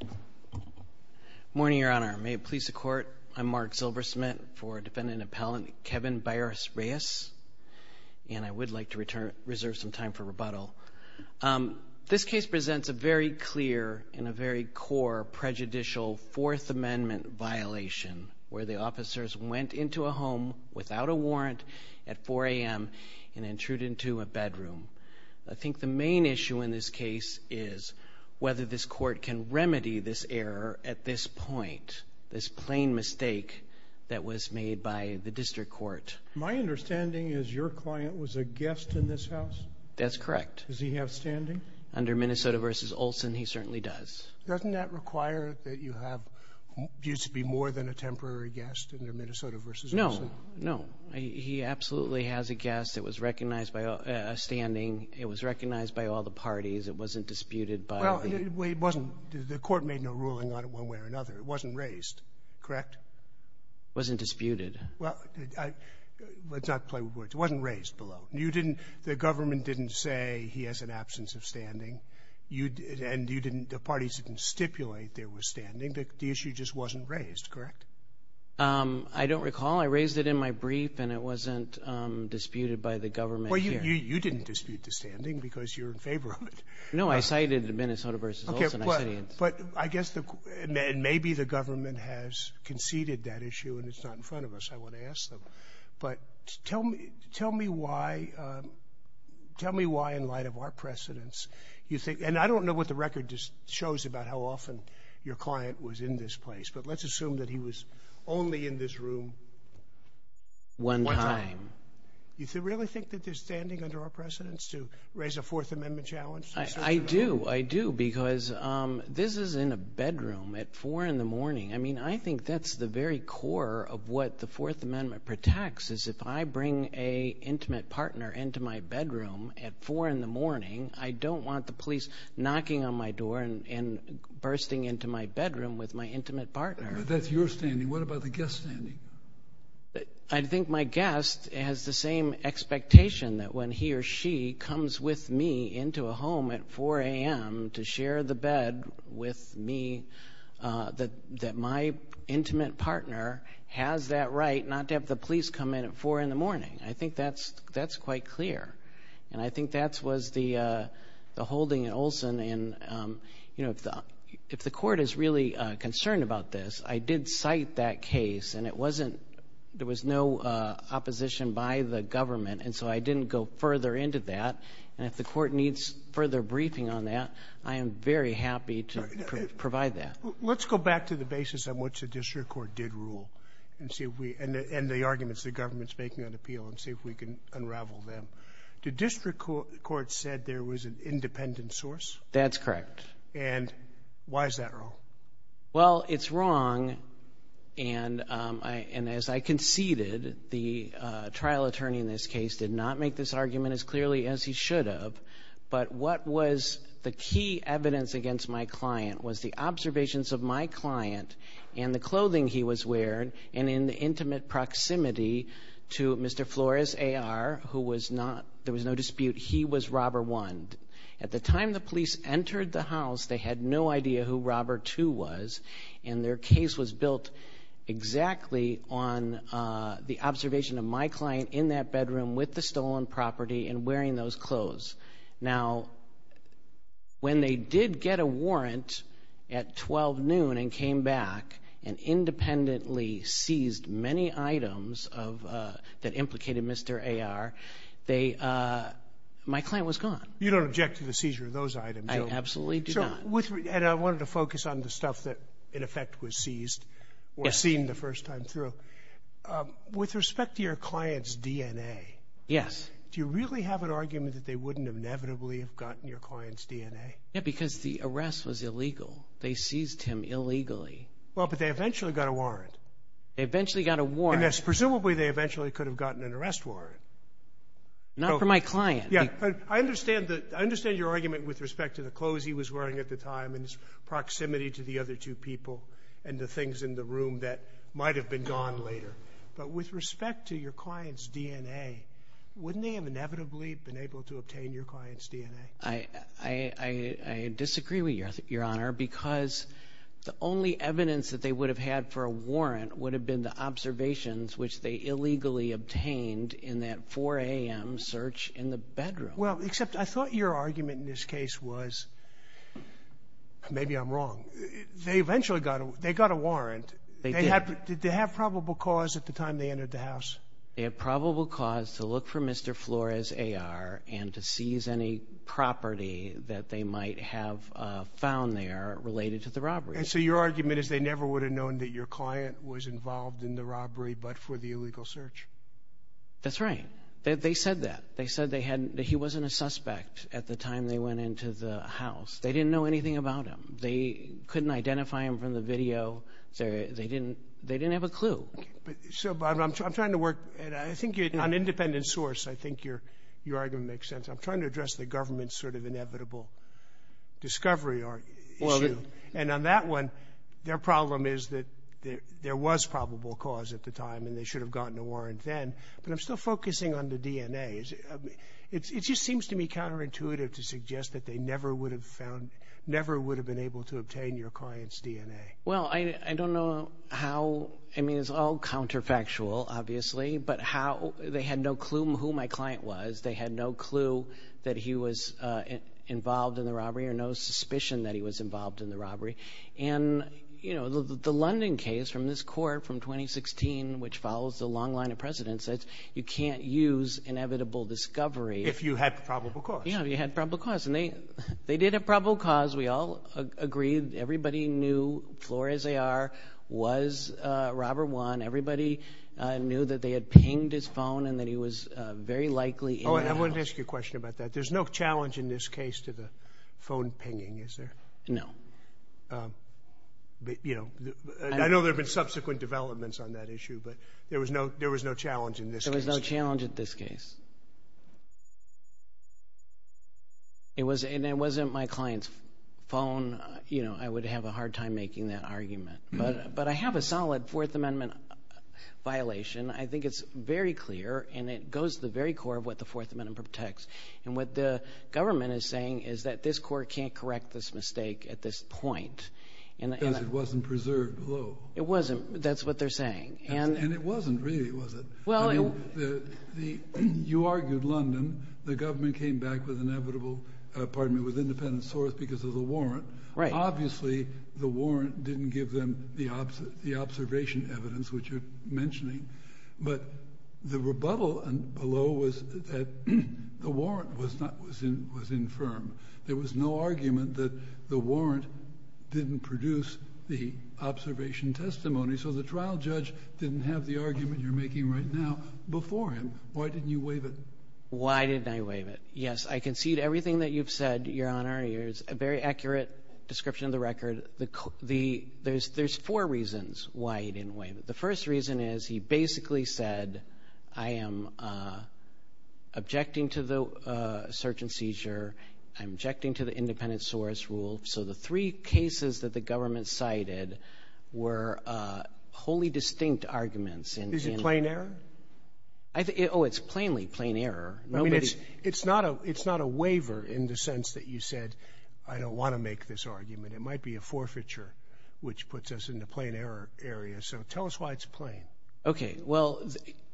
Good morning, Your Honor. May it please the Court, I'm Mark Silversmith for Defendant Appellant Kevin Baires-Reyes, and I would like to reserve some time for rebuttal. This case presents a very clear and a very core prejudicial Fourth Amendment violation where the officers went into a home without a warrant at 4 a.m. and intruded into a bedroom. I think the main issue in this case is whether this Court can remedy this error at this point, this plain mistake that was made by the District Court. My understanding is your client was a guest in this house? That's correct. Does he have standing? Under Minnesota v. Olson, he certainly does. Doesn't that require that you have used to be more than a temporary guest under Minnesota v. Olson? No, no. He absolutely has a guest. It was recognized by a standing. It was recognized by all the parties. It wasn't disputed by the Well, it wasn't. The Court made no ruling on it one way or another. It wasn't raised, correct? It wasn't disputed. Well, let's not play with words. It wasn't raised below. You didn't, the government didn't say he has an absence of standing, and you didn't, the parties didn't stipulate there was standing. The issue just wasn't raised, correct? I don't recall. I raised it in my brief, and it wasn't disputed by the government here. You didn't dispute the standing because you're in favor of it. No, I cited Minnesota v. Olson. I guess, and maybe the government has conceded that issue, and it's not in front of us. I want to ask them. But tell me why, in light of our precedents, you think, and I don't know what the record just shows about how often your client was in this place, but let's assume that he was only in this room one time. You really think that there's standing under our precedents to raise a Fourth Amendment challenge? I do. I do, because this is in a bedroom at 4 in the morning. I mean, I think that's the very core of what the Fourth Amendment protects, is if I bring an intimate partner into my bedroom at 4 in the morning, I don't want the police knocking on my door and bursting into my bedroom with my intimate partner. But that's your standing. What about the guest standing? I think my guest has the same expectation that when he or she comes with me into a home at 4 a.m. to share the bed with me, that my intimate partner has that right not to have the police come in at 4 in the morning. I think that's quite clear. And I think that was the holding at Olson, and if the court is really concerned about this, I did cite that case, and there was no opposition by the government, and so I didn't go further into that. And if the court needs further briefing on that, I am very happy to provide that. Let's go back to the basis on which the district court did rule, and the arguments the government's making on appeal, and see if we can unravel them. The district court said there was an independent source? That's correct. And why is that wrong? Well, it's wrong, and as I conceded, the trial attorney in this case did not make this argument as clearly as he should have, but what was the key evidence against my client was the to Mr. Flores, A.R., who was not, there was no dispute, he was robber one. At the time the police entered the house, they had no idea who robber two was, and their case was built exactly on the observation of my client in that bedroom with the stolen property and wearing those clothes. Now, when they did get a warrant at 12 noon and came back and that implicated Mr. A.R., they, my client was gone. You don't object to the seizure of those items, do you? I absolutely do not. And I wanted to focus on the stuff that in effect was seized or seen the first time through. With respect to your client's DNA, do you really have an argument that they wouldn't have inevitably gotten your client's DNA? Yeah, because the arrest was illegal. They seized him illegally. Well, but they eventually got a warrant. They eventually got a warrant. Presumably they eventually could have gotten an arrest warrant. Not for my client. Yeah, but I understand your argument with respect to the clothes he was wearing at the time and his proximity to the other two people and the things in the room that might have been gone later. But with respect to your client's DNA, wouldn't they have inevitably been able to obtain your client's DNA? I disagree with you, Your Honor, because the only evidence that they would have had for observations which they illegally obtained in that 4 a.m. search in the bedroom. Well, except I thought your argument in this case was, maybe I'm wrong, they eventually got a warrant. They did. Did they have probable cause at the time they entered the house? They had probable cause to look for Mr. Flores' AR and to seize any property that they might have found there related to the robbery. And so your argument is they never would have known that your client was involved in the robbery but for the illegal search? That's right. They said that. They said that he wasn't a suspect at the time they went into the house. They didn't know anything about him. They couldn't identify him from the video. They didn't have a clue. So I'm trying to work, and I think on independent source, I think your argument makes sense. I'm trying to address the government's sort of inevitable discovery issue. And on that one, their problem is that there was probable cause at the time and they should have gotten a warrant then. But I'm still focusing on the DNA. It just seems to me counterintuitive to suggest that they never would have found, never would have been able to obtain your client's DNA. Well, I don't know how, I mean it's all counterfactual obviously, but how they had no clue who my client was. They had no clue that he was involved in the robbery or no suspicion that he was involved. And you know, the London case from this court from 2016, which follows the long line of precedence, says you can't use inevitable discovery. If you had probable cause. Yeah, if you had probable cause. And they did have probable cause. We all agreed. Everybody knew, floor as they are, was Robert Wan. Everybody knew that they had pinged his phone and that he was very likely in the house. Oh, and I wanted to ask you a question about that. There's no challenge in this case to the phone pinging, is there? No. I know there have been subsequent developments on that issue, but there was no challenge in this case. There was no challenge in this case. It wasn't my client's phone. I would have a hard time making that argument. But I have a solid Fourth Amendment violation. I think it's very clear and it goes to the very core of what the Fourth Amendment protects. And what the government is saying is that this court can't correct this mistake at this point. Because it wasn't preserved below. It wasn't. That's what they're saying. And it wasn't really, was it? You argued London. The government came back with independent source because of the warrant. Obviously, the warrant didn't give them the observation evidence, which you're mentioning. But the rebuttal below was that the warrant was infirm. There was no argument that the warrant didn't produce the observation testimony. So the trial judge didn't have the argument you're making right now before him. Why didn't you waive it? Why didn't I waive it? Yes, I concede everything that you've said, Your Honor. It's a very is, he basically said, I am objecting to the search and seizure. I'm objecting to the independent source rule. So the three cases that the government cited were wholly distinct arguments. Is it plain error? Oh, it's plainly plain error. I mean, it's not a waiver in the sense that you said, I don't want to make this argument. It might be a forfeiture, which puts us in the plain error area. So tell us why it's plain. Okay. Well,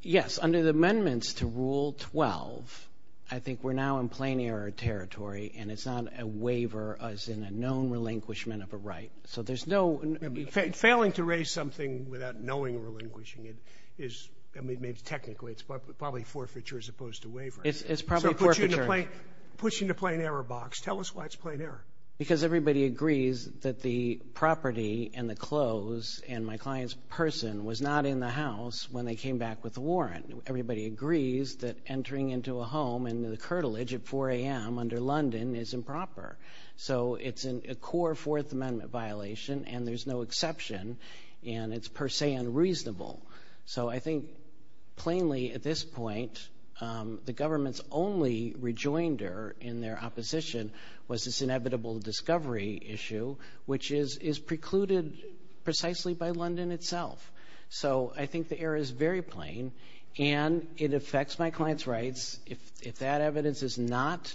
yes. Under the amendments to Rule 12, I think we're now in plain error territory and it's not a waiver as in a known relinquishment of a right. So there's no... Failing to raise something without knowing relinquishing it is, I mean, maybe technically it's probably forfeiture as opposed to waiver. It's probably forfeiture. So it puts you in the plain error box. Tell us why it's plain error. Because everybody agrees that the property and the clothes and my client's person was not in the house when they came back with the warrant. Everybody agrees that entering into a home and the curtilage at 4 a.m. under London is improper. So it's a core Fourth Amendment violation and there's no exception and it's per se unreasonable. So I think plainly at this point, the government's only rejoinder in their opposition was this inevitable discovery issue, which is precluded precisely by London itself. So I think the error is very plain and it affects my client's rights. If that evidence is not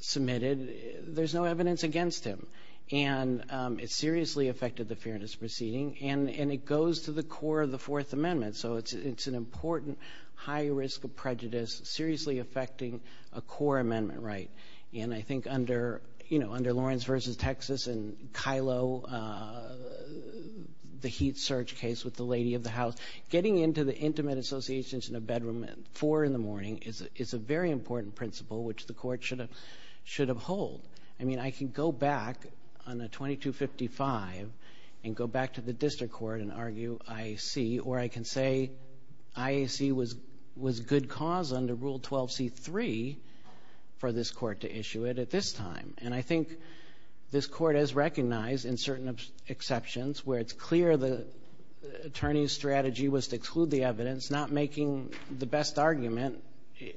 submitted, there's no evidence against him. And it seriously affected the fairness proceeding and it goes to the core of the Fourth Amendment. So it's an important high risk of prejudice seriously affecting a core amendment right. And I think under, you know, under Lawrence v. Texas and Kylo, the heat surge case with the lady of the house, getting into the intimate associations in a bedroom at 4 in the morning is a very important principle, which the court should have should have hold. I mean, I can go back on a 2255 and go back to the district court and argue IAC, or I can say IAC was good cause under Rule 12C3 for this court to issue it at this time. And I think this court has recognized in certain exceptions where it's clear the attorney's strategy was to exclude the evidence, not making the best argument.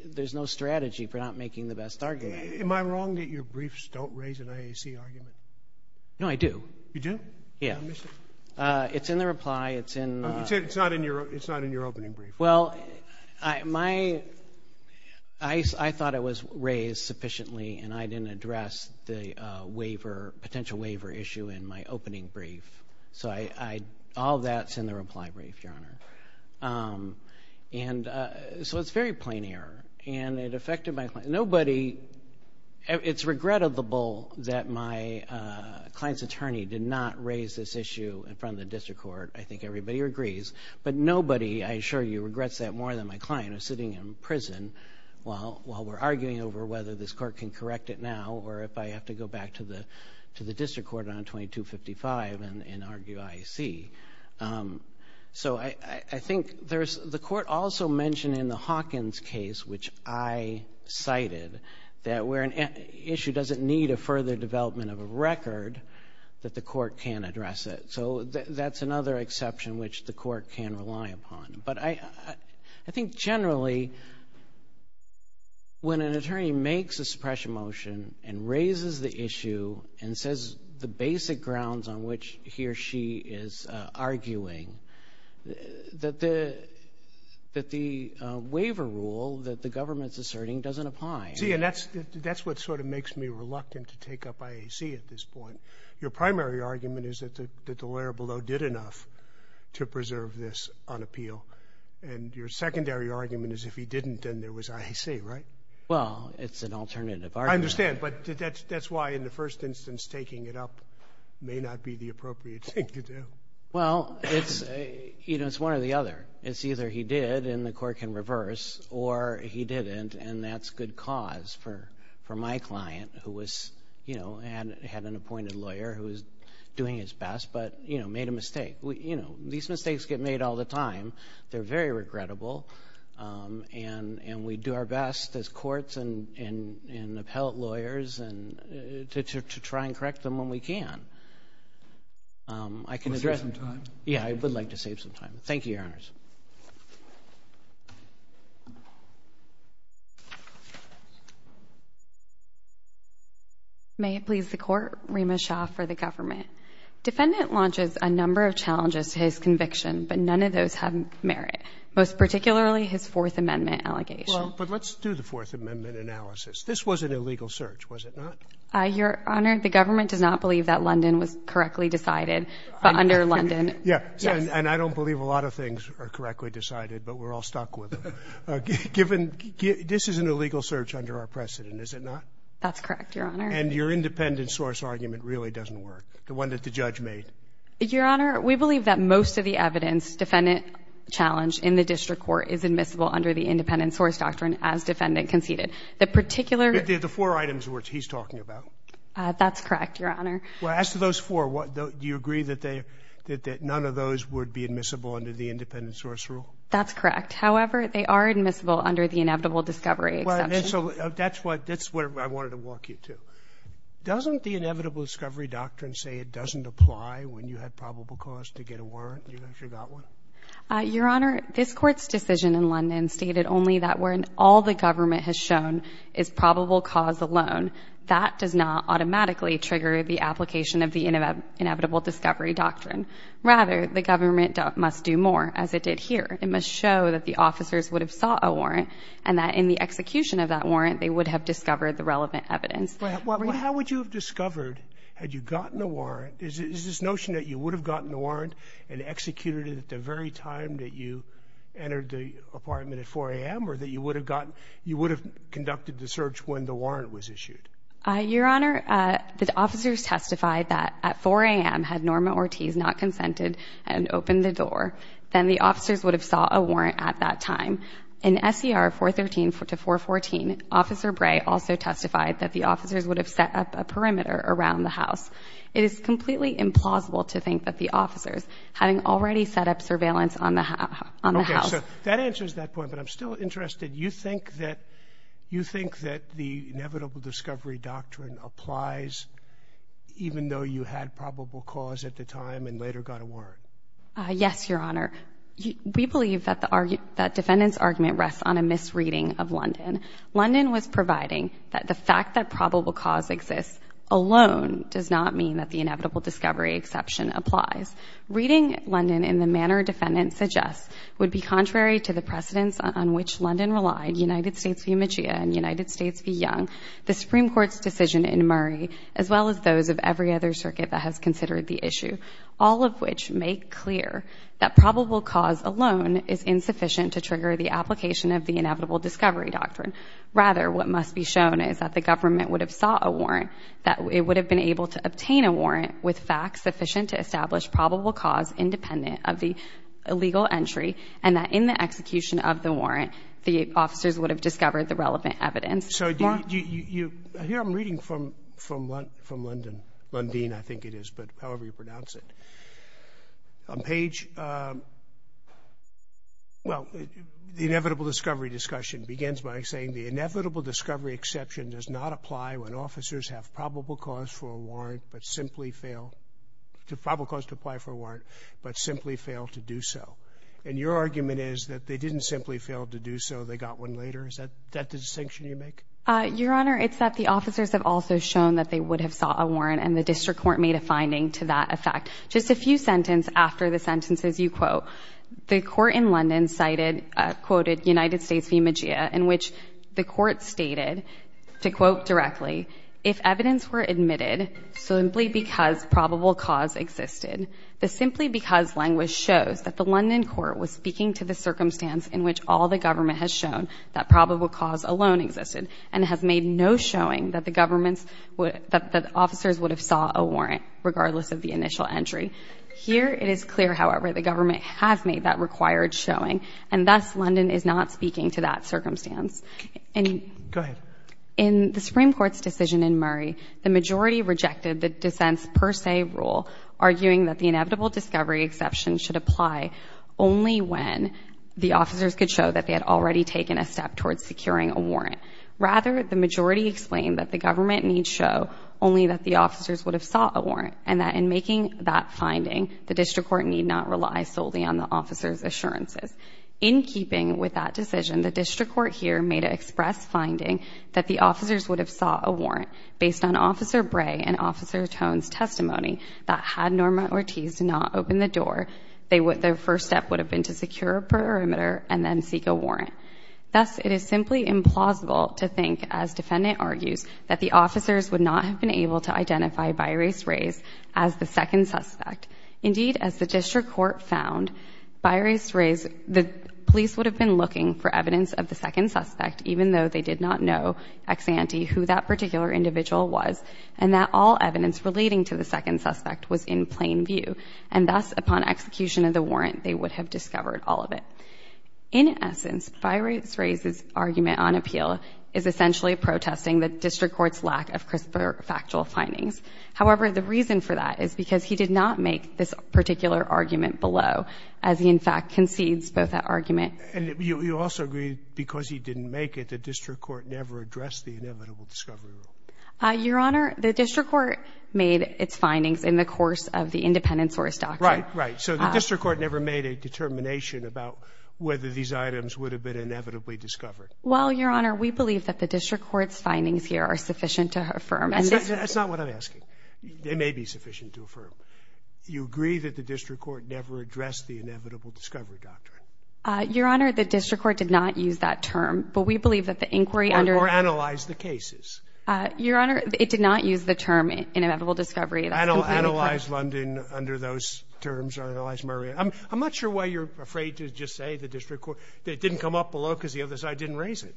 There's no strategy for not making the best argument. Am I wrong that your briefs don't raise an IAC argument? No, I do. You do? Yeah. It's in the reply. It's in, it's not in your, it's not in your opening brief. Well, I, my, I, I thought it was raised sufficiently and I didn't address the, uh, waiver, potential waiver issue in my opening brief. So I, I, all of that's in the reply brief, Your Honor. Um, and, uh, so it's very plain error and it affected my client. Nobody, it's regrettable that my, uh, client's attorney did not raise this issue in front of the district court. I think everybody agrees, but nobody, I assure you, regrets that more than my client who's sitting in prison while, while we're arguing over whether this court can correct it now or if I have to go back to the, to the district court on 2255 and argue IAC. Um, so I, I think there's, the court also mentioned in the Hawkins case, which I cited, that where an issue doesn't need a further development of a record, that the court can address it. So that's another exception which the court can rely upon. But I, I, I think generally when an attorney makes a suppression motion and raises the issue and says the basic grounds on which he or she is, uh, arguing, that the, that the, uh, court can reverse, that's a rule that the government's asserting doesn't apply. See, and that's, that's what sort of makes me reluctant to take up IAC at this point. Your primary argument is that the, that the lawyer below did enough to preserve this on appeal. And your secondary argument is if he didn't, then there was IAC, right? Well, it's an alternative argument. I understand, but that's, that's why in the first instance, taking it up may not be the appropriate thing to do. Well, it's, you know, it's one or the other. It's or he didn't, and that's good cause for, for my client who was, you know, had, had an appointed lawyer who was doing his best, but, you know, made a mistake. We, you know, these mistakes get made all the time. They're very regrettable. Um, and, and we do our best as courts and, and, and appellate lawyers and to, to try and correct them when we can. Um, I can address that. Yeah, I would like to save some time. Thank you, Your Honors. May it please the Court. Rima Shah for the government. Defendant launches a number of challenges to his conviction, but none of those have merit, most particularly his Fourth Amendment allegation. Well, but let's do the Fourth Amendment analysis. This was an illegal search, was it not? Uh, Your London. Yeah. And I don't believe a lot of things are correctly decided, but we're all stuck with, uh, given this is an illegal search under our precedent, is it not? That's correct, Your Honor. And your independent source argument really doesn't work. The one that the judge made. Your Honor, we believe that most of the evidence defendant challenge in the district court is admissible under the independent source doctrine as defendant conceded the particular, the four items where he's talking about. Uh, that's correct, Your Honor. That none of those would be admissible under the independent source rule. That's correct. However, they are admissible under the inevitable discovery. So that's what that's where I wanted to walk you to. Doesn't the inevitable discovery doctrine say it doesn't apply when you had probable cause to get a warrant? You actually got one. Uh, Your Honor, this court's decision in London stated only that when all the government has shown is probable cause alone, that does not automatically trigger the application of the inevitable discovery doctrine. Rather, the government must do more as it did here. It must show that the officers would have saw a warrant and that in the execution of that warrant, they would have discovered the relevant evidence. How would you have discovered had you gotten a warrant? Is this notion that you would have gotten a warrant and executed it at the very time that you entered the apartment at four a.m. or that you would have gotten, you would have conducted the search when the warrant was issued? Uh, Your Honor, uh, the officers testified that at four a.m. had Norma Ortiz not consented and opened the door, then the officers would have saw a warrant at that time. In S. E. R. 4 13 to 4 14. Officer Bray also testified that the officers would have set up a perimeter around the house. It is completely implausible to think that the officers having already set up surveillance on the house on the house that answers that point. But I'm still interested. You think that you even though you had probable cause at the time and later got a word? Yes, Your Honor, we believe that the argument that defendants argument rests on a misreading of London. London was providing that the fact that probable cause exists alone does not mean that the inevitable discovery exception applies. Reading London in the manner defendants suggest would be contrary to the precedents on which London relied. United States, the image and United States be young. The Supreme Court's decision in Murray, as well as those of every other circuit that has considered the issue, all of which make clear that probable cause alone is insufficient to trigger the application of the inevitable discovery doctrine. Rather, what must be shown is that the government would have sought a warrant that it would have been able to obtain a warrant with facts sufficient to establish probable cause independent of the illegal entry and that in the execution of the warrant, the officers would have So you hear I'm reading from from London, London, I think it is, but however you pronounce it on page. Well, the inevitable discovery discussion begins by saying the inevitable discovery exception does not apply when officers have probable cause for a warrant, but simply fail to probable cause to apply for a warrant, but simply fail to do so. And your argument is that they didn't simply fail to do so. They got one later. Is that that distinction you make? Your Honor, it's that the officers have also shown that they would have sought a warrant and the district court made a finding to that effect. Just a few sentence after the sentences you quote, the court in London cited quoted United States image in which the court stated to quote directly if evidence were admitted simply because probable cause existed the simply because language shows that the London court was speaking to the circumstance in which all the government has shown that probable cause alone existed and has made no showing that the government's would that the officers would have sought a warrant regardless of the initial entry here. It is clear, however, the government has made that required showing and thus London is not speaking to that circumstance and in the Supreme Court's decision in Murray, the majority rejected the dissents per se rule arguing that the inevitable discovery exception should apply only when the officers could show that they had already taken a step towards securing a warrant. Rather, the majority explained that the government need show only that the officers would have sought a warrant and that in making that finding, the district court need not rely solely on the officer's assurances. In keeping with that decision, the district court here made an express finding that the officers would have sought a warrant based on Officer Bray and Officer Tone's testimony that had Norma Ortiz not opened the door, they would their first step would have been to secure a perimeter and then seek a warrant. Thus, it is simply implausible to think, as defendant argues, that the officers would not have been able to identify Byrace Rays as the second suspect. Indeed, as the district court found, Byrace Rays, the police would have been looking for evidence of the second suspect even though they did not know ex ante who that particular individual was and that all evidence relating to the second suspect was in plain view. And thus, upon execution of the warrant, they would have discovered all of it. In essence, Byrace Rays' argument on appeal is essentially protesting the district court's lack of crisper factual findings. However, the reason for that is because he did not make this particular argument below as he, in fact, concedes both that argument. And you also agree because he didn't make it, the district court never addressed the inevitable discovery rule? Your Honor, the district court made its findings in the course of the independent source doctrine. Right, right. So the district court never made a determination about whether these items would have been inevitably discovered? Well, Your Honor, we believe that the district court's findings here are sufficient to affirm. That's not what I'm asking. They may be sufficient to affirm. You agree that the district court never addressed the inevitable discovery doctrine? Your Honor, the district court did not use that term, but we believe that the inquiry under Or analyzed the cases? Your Honor, it did not use the term inevitable discovery. Analyzed London under those terms, or analyzed Murray. I'm not sure why you're afraid to just say the district court, that it didn't come up below because the other side didn't raise it.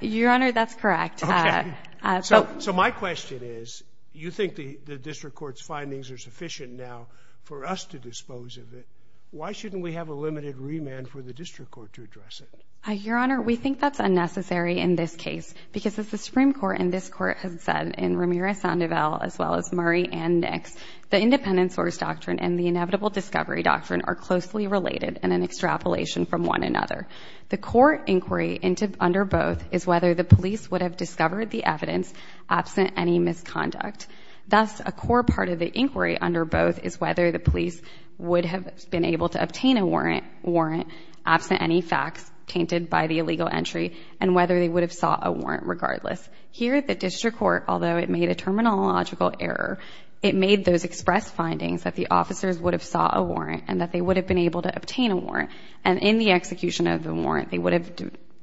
Your Honor, that's correct. So my question is, you think the district court's findings are sufficient now for us to dispose of it. Why shouldn't we have a limited remand for the district court to address it? Your Honor, we think that's unnecessary in this case, because as the Supreme Court and this court have said in Ramirez-Sandoval, as well as Murray and Nix, the independent source doctrine and the inevitable discovery doctrine are closely related and an extrapolation from one another. The core inquiry under both is whether the police would have discovered the evidence absent any misconduct. Thus, a core part of the inquiry under both is whether the police would have been able to obtain a warrant, absent any facts tainted by the illegal entry, and whether they would have sought a warrant regardless. Here at the district court, although it made a terminological error, it made those express findings that the officers would have sought a warrant and that they would have been able to obtain a warrant. And in the execution of the warrant, they would have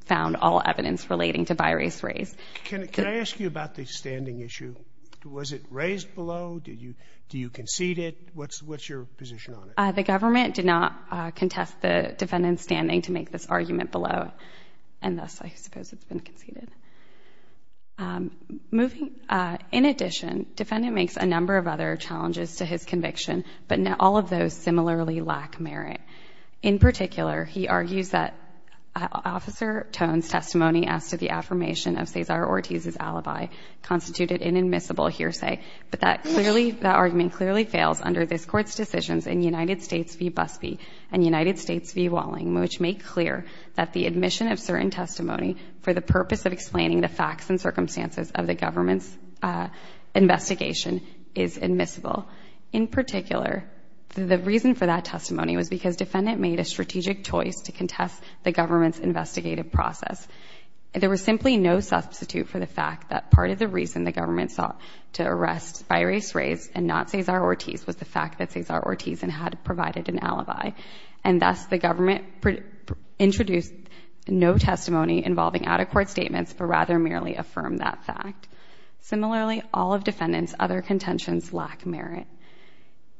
found all evidence relating to birace raise. Can I ask you about the standing issue? Was it raised below? Do you concede it? What's your position on it? The government did not contest the defendant's standing to make this argument below, and thus I suppose it's been conceded. In addition, defendant makes a number of other challenges to his conviction, but all of those similarly lack merit. In particular, he argues that Officer Tone's testimony as to the affirmation of Cesar Ortiz's alibi constituted an admissible hearsay, but that argument clearly fails under this Court's decisions in United States v. Busby and United States v. Walling, which make clear that the admission of certain testimony for the purpose of explaining the facts and circumstances of the government's investigation is admissible. In particular, the reason for that testimony was because defendant made a strategic choice to contest the government's investigative process. There was simply no substitute for the fact that part of the reason the government sought to arrest birace raise and not Cesar Ortiz was the fact that Cesar Ortiz had provided an alibi, and thus the government introduced no testimony involving out-of-court statements, but rather merely affirmed that fact. Similarly, all of defendant's other contentions lack merit.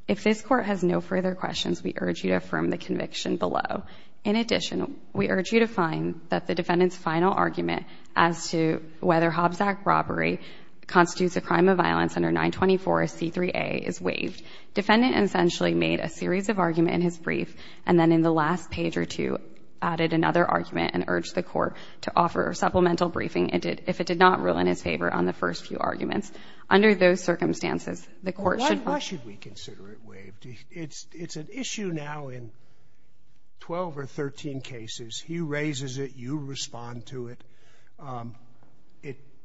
If this Court has no further questions, we urge you to affirm the conviction below. In addition, we urge you to find that the defendant's final argument as to whether Hobbs Act robbery constitutes a crime of violence under 924C3A is waived. Defendant essentially made a series of arguments in his brief, and then in the last page or two, added another argument and urged the Court to offer supplemental briefing if it did not rule in his favor on the first few arguments. Under those circumstances, the Court should... Why should we consider it waived? It's an issue now in 12 or 13 cases. He raises it, you respond to it.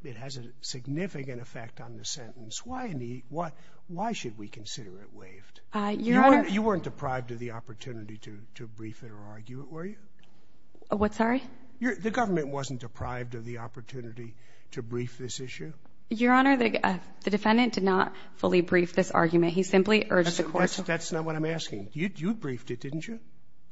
It has a significant effect on the sentence. Why should we consider it waived? You weren't deprived of the opportunity to brief it or argue it, were you? What, sorry? The government wasn't deprived of the opportunity to brief this issue? Your Honor, the defendant did not fully brief this argument. He simply urged the Court... That's not what I'm asking. You briefed it, didn't you?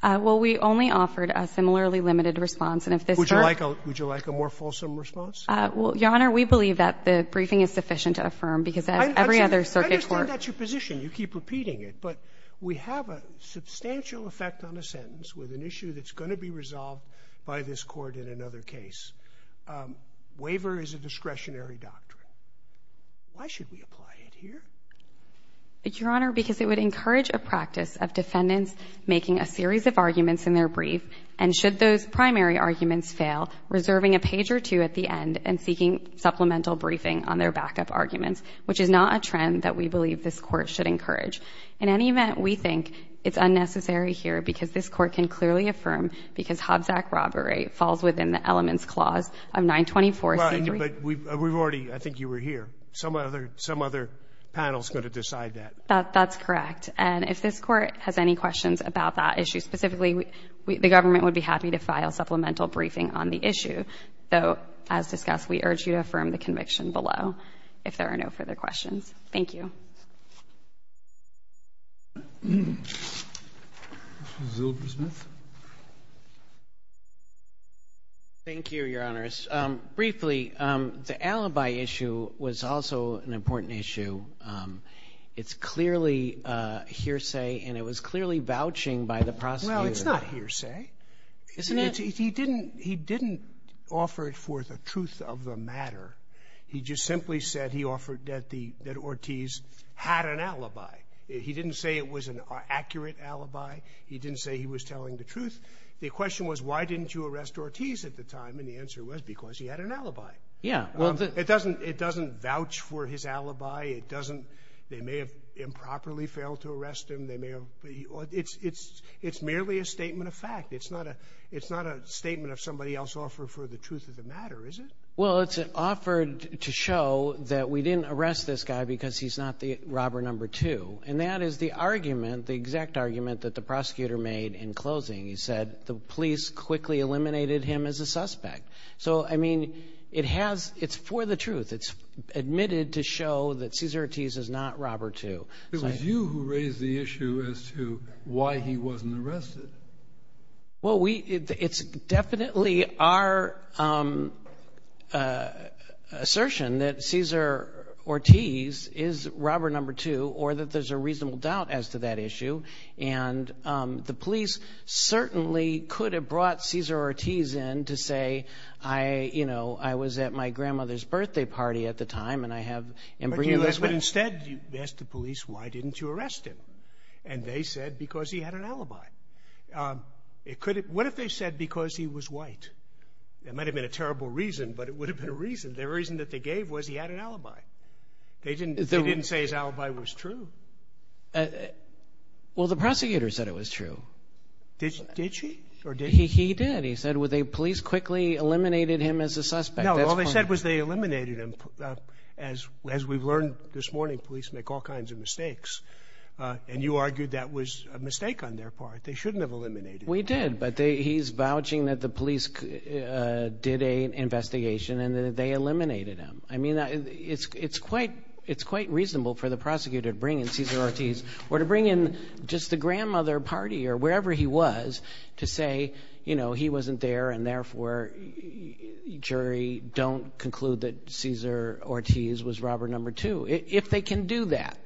Well, we only offered a similarly limited response, and if this... Would you like a more fulsome response? Your Honor, we believe that the briefing is sufficient to affirm, because as every other circuit court... I understand that's your position. You keep repeating it. But we have a substantial effect on a sentence with an issue that's going to be resolved by this Court in another case. Waiver is a discretionary doctrine. Why should we apply it here? Your Honor, because it would encourage a practice of defendants making a series of arguments in their brief, and should those primary arguments fail, reserving a page or two at the end and seeking supplemental briefing on their backup arguments, which is not a trend that we believe this Court should encourage. In any event, we think it's unnecessary here because this Court can clearly affirm because Hobbs Act robbery falls within the elements clause of 924C3... But we've already... I think you were here. Some other panel's going to decide that. That's correct. And if this Court has any questions about that issue, specifically, the government would be happy to file supplemental briefing on the issue. Though, as discussed, we urge you to affirm the conviction below if there are no further questions. Thank you. Mr. Zilbersmith. Thank you, Your Honors. Briefly, the alibi issue was also an important issue. It's clearly hearsay, and it was clearly vouching by the prosecutor. Well, it's not hearsay. Isn't it? He didn't offer it for the truth of the matter. He just simply said he offered that Ortiz should be held accountable. He didn't say it was an accurate alibi. He didn't say he was telling the truth. The question was, why didn't you arrest Ortiz at the time? And the answer was, because he had an alibi. It doesn't vouch for his alibi. They may have improperly failed to arrest him. It's merely a statement of fact. It's not a statement of somebody else offered for the truth of the matter, is it? Well, it's offered to show that we didn't arrest this guy because he's not the robber number two. And that is the argument, the exact argument that the prosecutor made in closing. He said the police quickly eliminated him as a suspect. So, I mean, it has, it's for the truth. It's admitted to show that Cesar Ortiz is not robber two. It was you who raised the issue as to why he wasn't arrested. Well, we, it's definitely our assertion that Cesar Ortiz is robber number two, or that there's a reasonable doubt as to that issue. And the police certainly could have brought Cesar Ortiz in to say, I, you know, I was at my grandmother's birthday party at the time, and I have embryo lesions. But instead, you asked the police, why didn't you arrest him? And they said because he had an alibi. It could have, what if they said because he was white? That might have been a terrible reason, but it would have been a reason. The reason that they gave was he had an alibi. They didn't, they didn't say his alibi was true. Well, the prosecutor said it was true. Did she? Or did he? He did. He said, well, the police quickly eliminated him as a suspect. No, all they said was they eliminated him. As we've learned this morning, police make all kinds of mistakes. And you argued that was a mistake on their part. They shouldn't have eliminated him. We did. But he's vouching that the police did an investigation and that they eliminated him. I mean, it's quite, it's quite reasonable for the prosecutor to bring in Cesar Ortiz or to bring in just the grandmother party or wherever he was to say, you know, he wasn't there and therefore jury don't conclude that Cesar Ortiz was robber number two. If they can do that,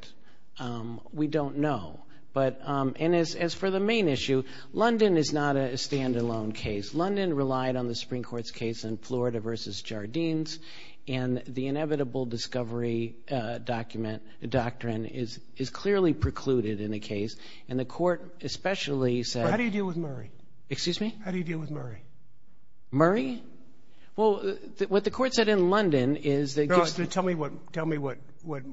um, we don't know. But, um, and as, as for the main issue, London is not a standalone case. London relied on the Supreme Court's case in Florida versus Jardines. And the inevitable discovery, uh, document, the doctrine is, is clearly precluded in a case. And the court especially said, How do you deal with Murray? Excuse me? How do you deal with Murray? Murray? Well, what the court said in London is that Tell me what, tell me what, what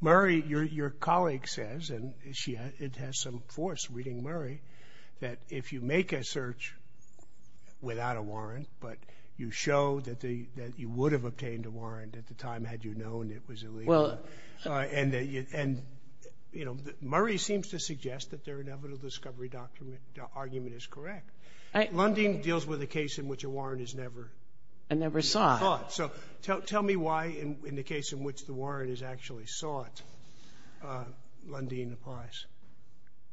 Murray, your, your colleague says, and she had, it has some force reading Murray, that if you make a search without a warrant, but you show that the, that you would have obtained a warrant at the time, had you known it was illegal. Well, And, and, you know, Murray seems to suggest that their inevitable discovery document argument is correct. London deals with a case in which a warrant is never, Never sought. Never sought. So tell, tell me why in, in the case in which the warrant is actually sought, uh, London applies.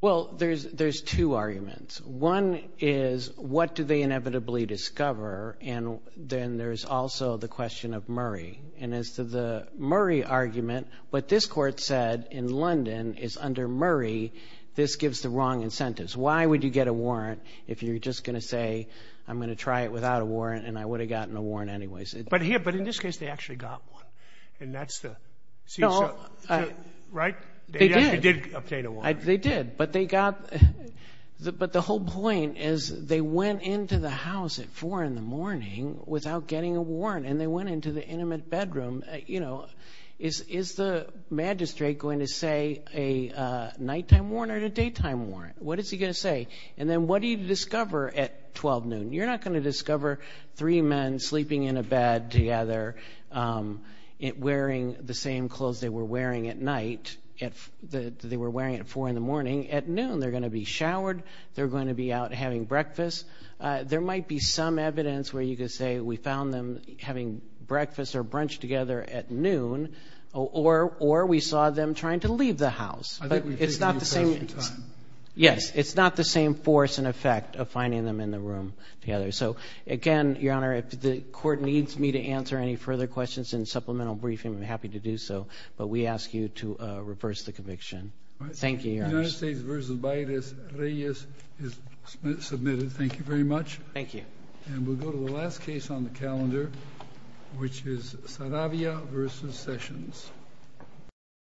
Well, there's, there's two arguments. One is what do they inevitably discover? And then there's also the question of Murray. And as to the Murray argument, what this court said in London is under Murray, this gives the wrong incentives. Why would you get a warrant if you're just going to say, I'm going to try it without a warrant and I would have gotten a warrant anyways. But here, but in this case, they actually got one and that's the, right? They did. They actually did obtain a warrant. They did, but they got the, but the whole point is they went into the house at four in the morning without getting a warrant. And they went into the intimate bedroom, you know, is, is the magistrate going to say a nighttime warrant or a daytime warrant? What is he going to say? And then what do you discover at 12 noon? You're not going to discover three men sleeping in a bed together, um, it wearing the same clothes they were wearing at night at the, they were wearing at four in the morning. At noon, they're going to be showered. They're going to be out having breakfast. Uh, there might be some evidence where you could say we found them having breakfast or brunch together at noon or, or, or we saw them trying to leave the house, but it's not the same. Yes, it's not the same force and effect of finding them in the room together. So again, Your Honor, if the court needs me to answer any further questions in supplemental briefing, I'm happy to do so, but we ask you to reverse the conviction. Thank you. United States versus Bailes-Reyes is submitted. Thank you very much. Thank you. And we'll go to the last case on the calendar, which is Saravia versus Sessions.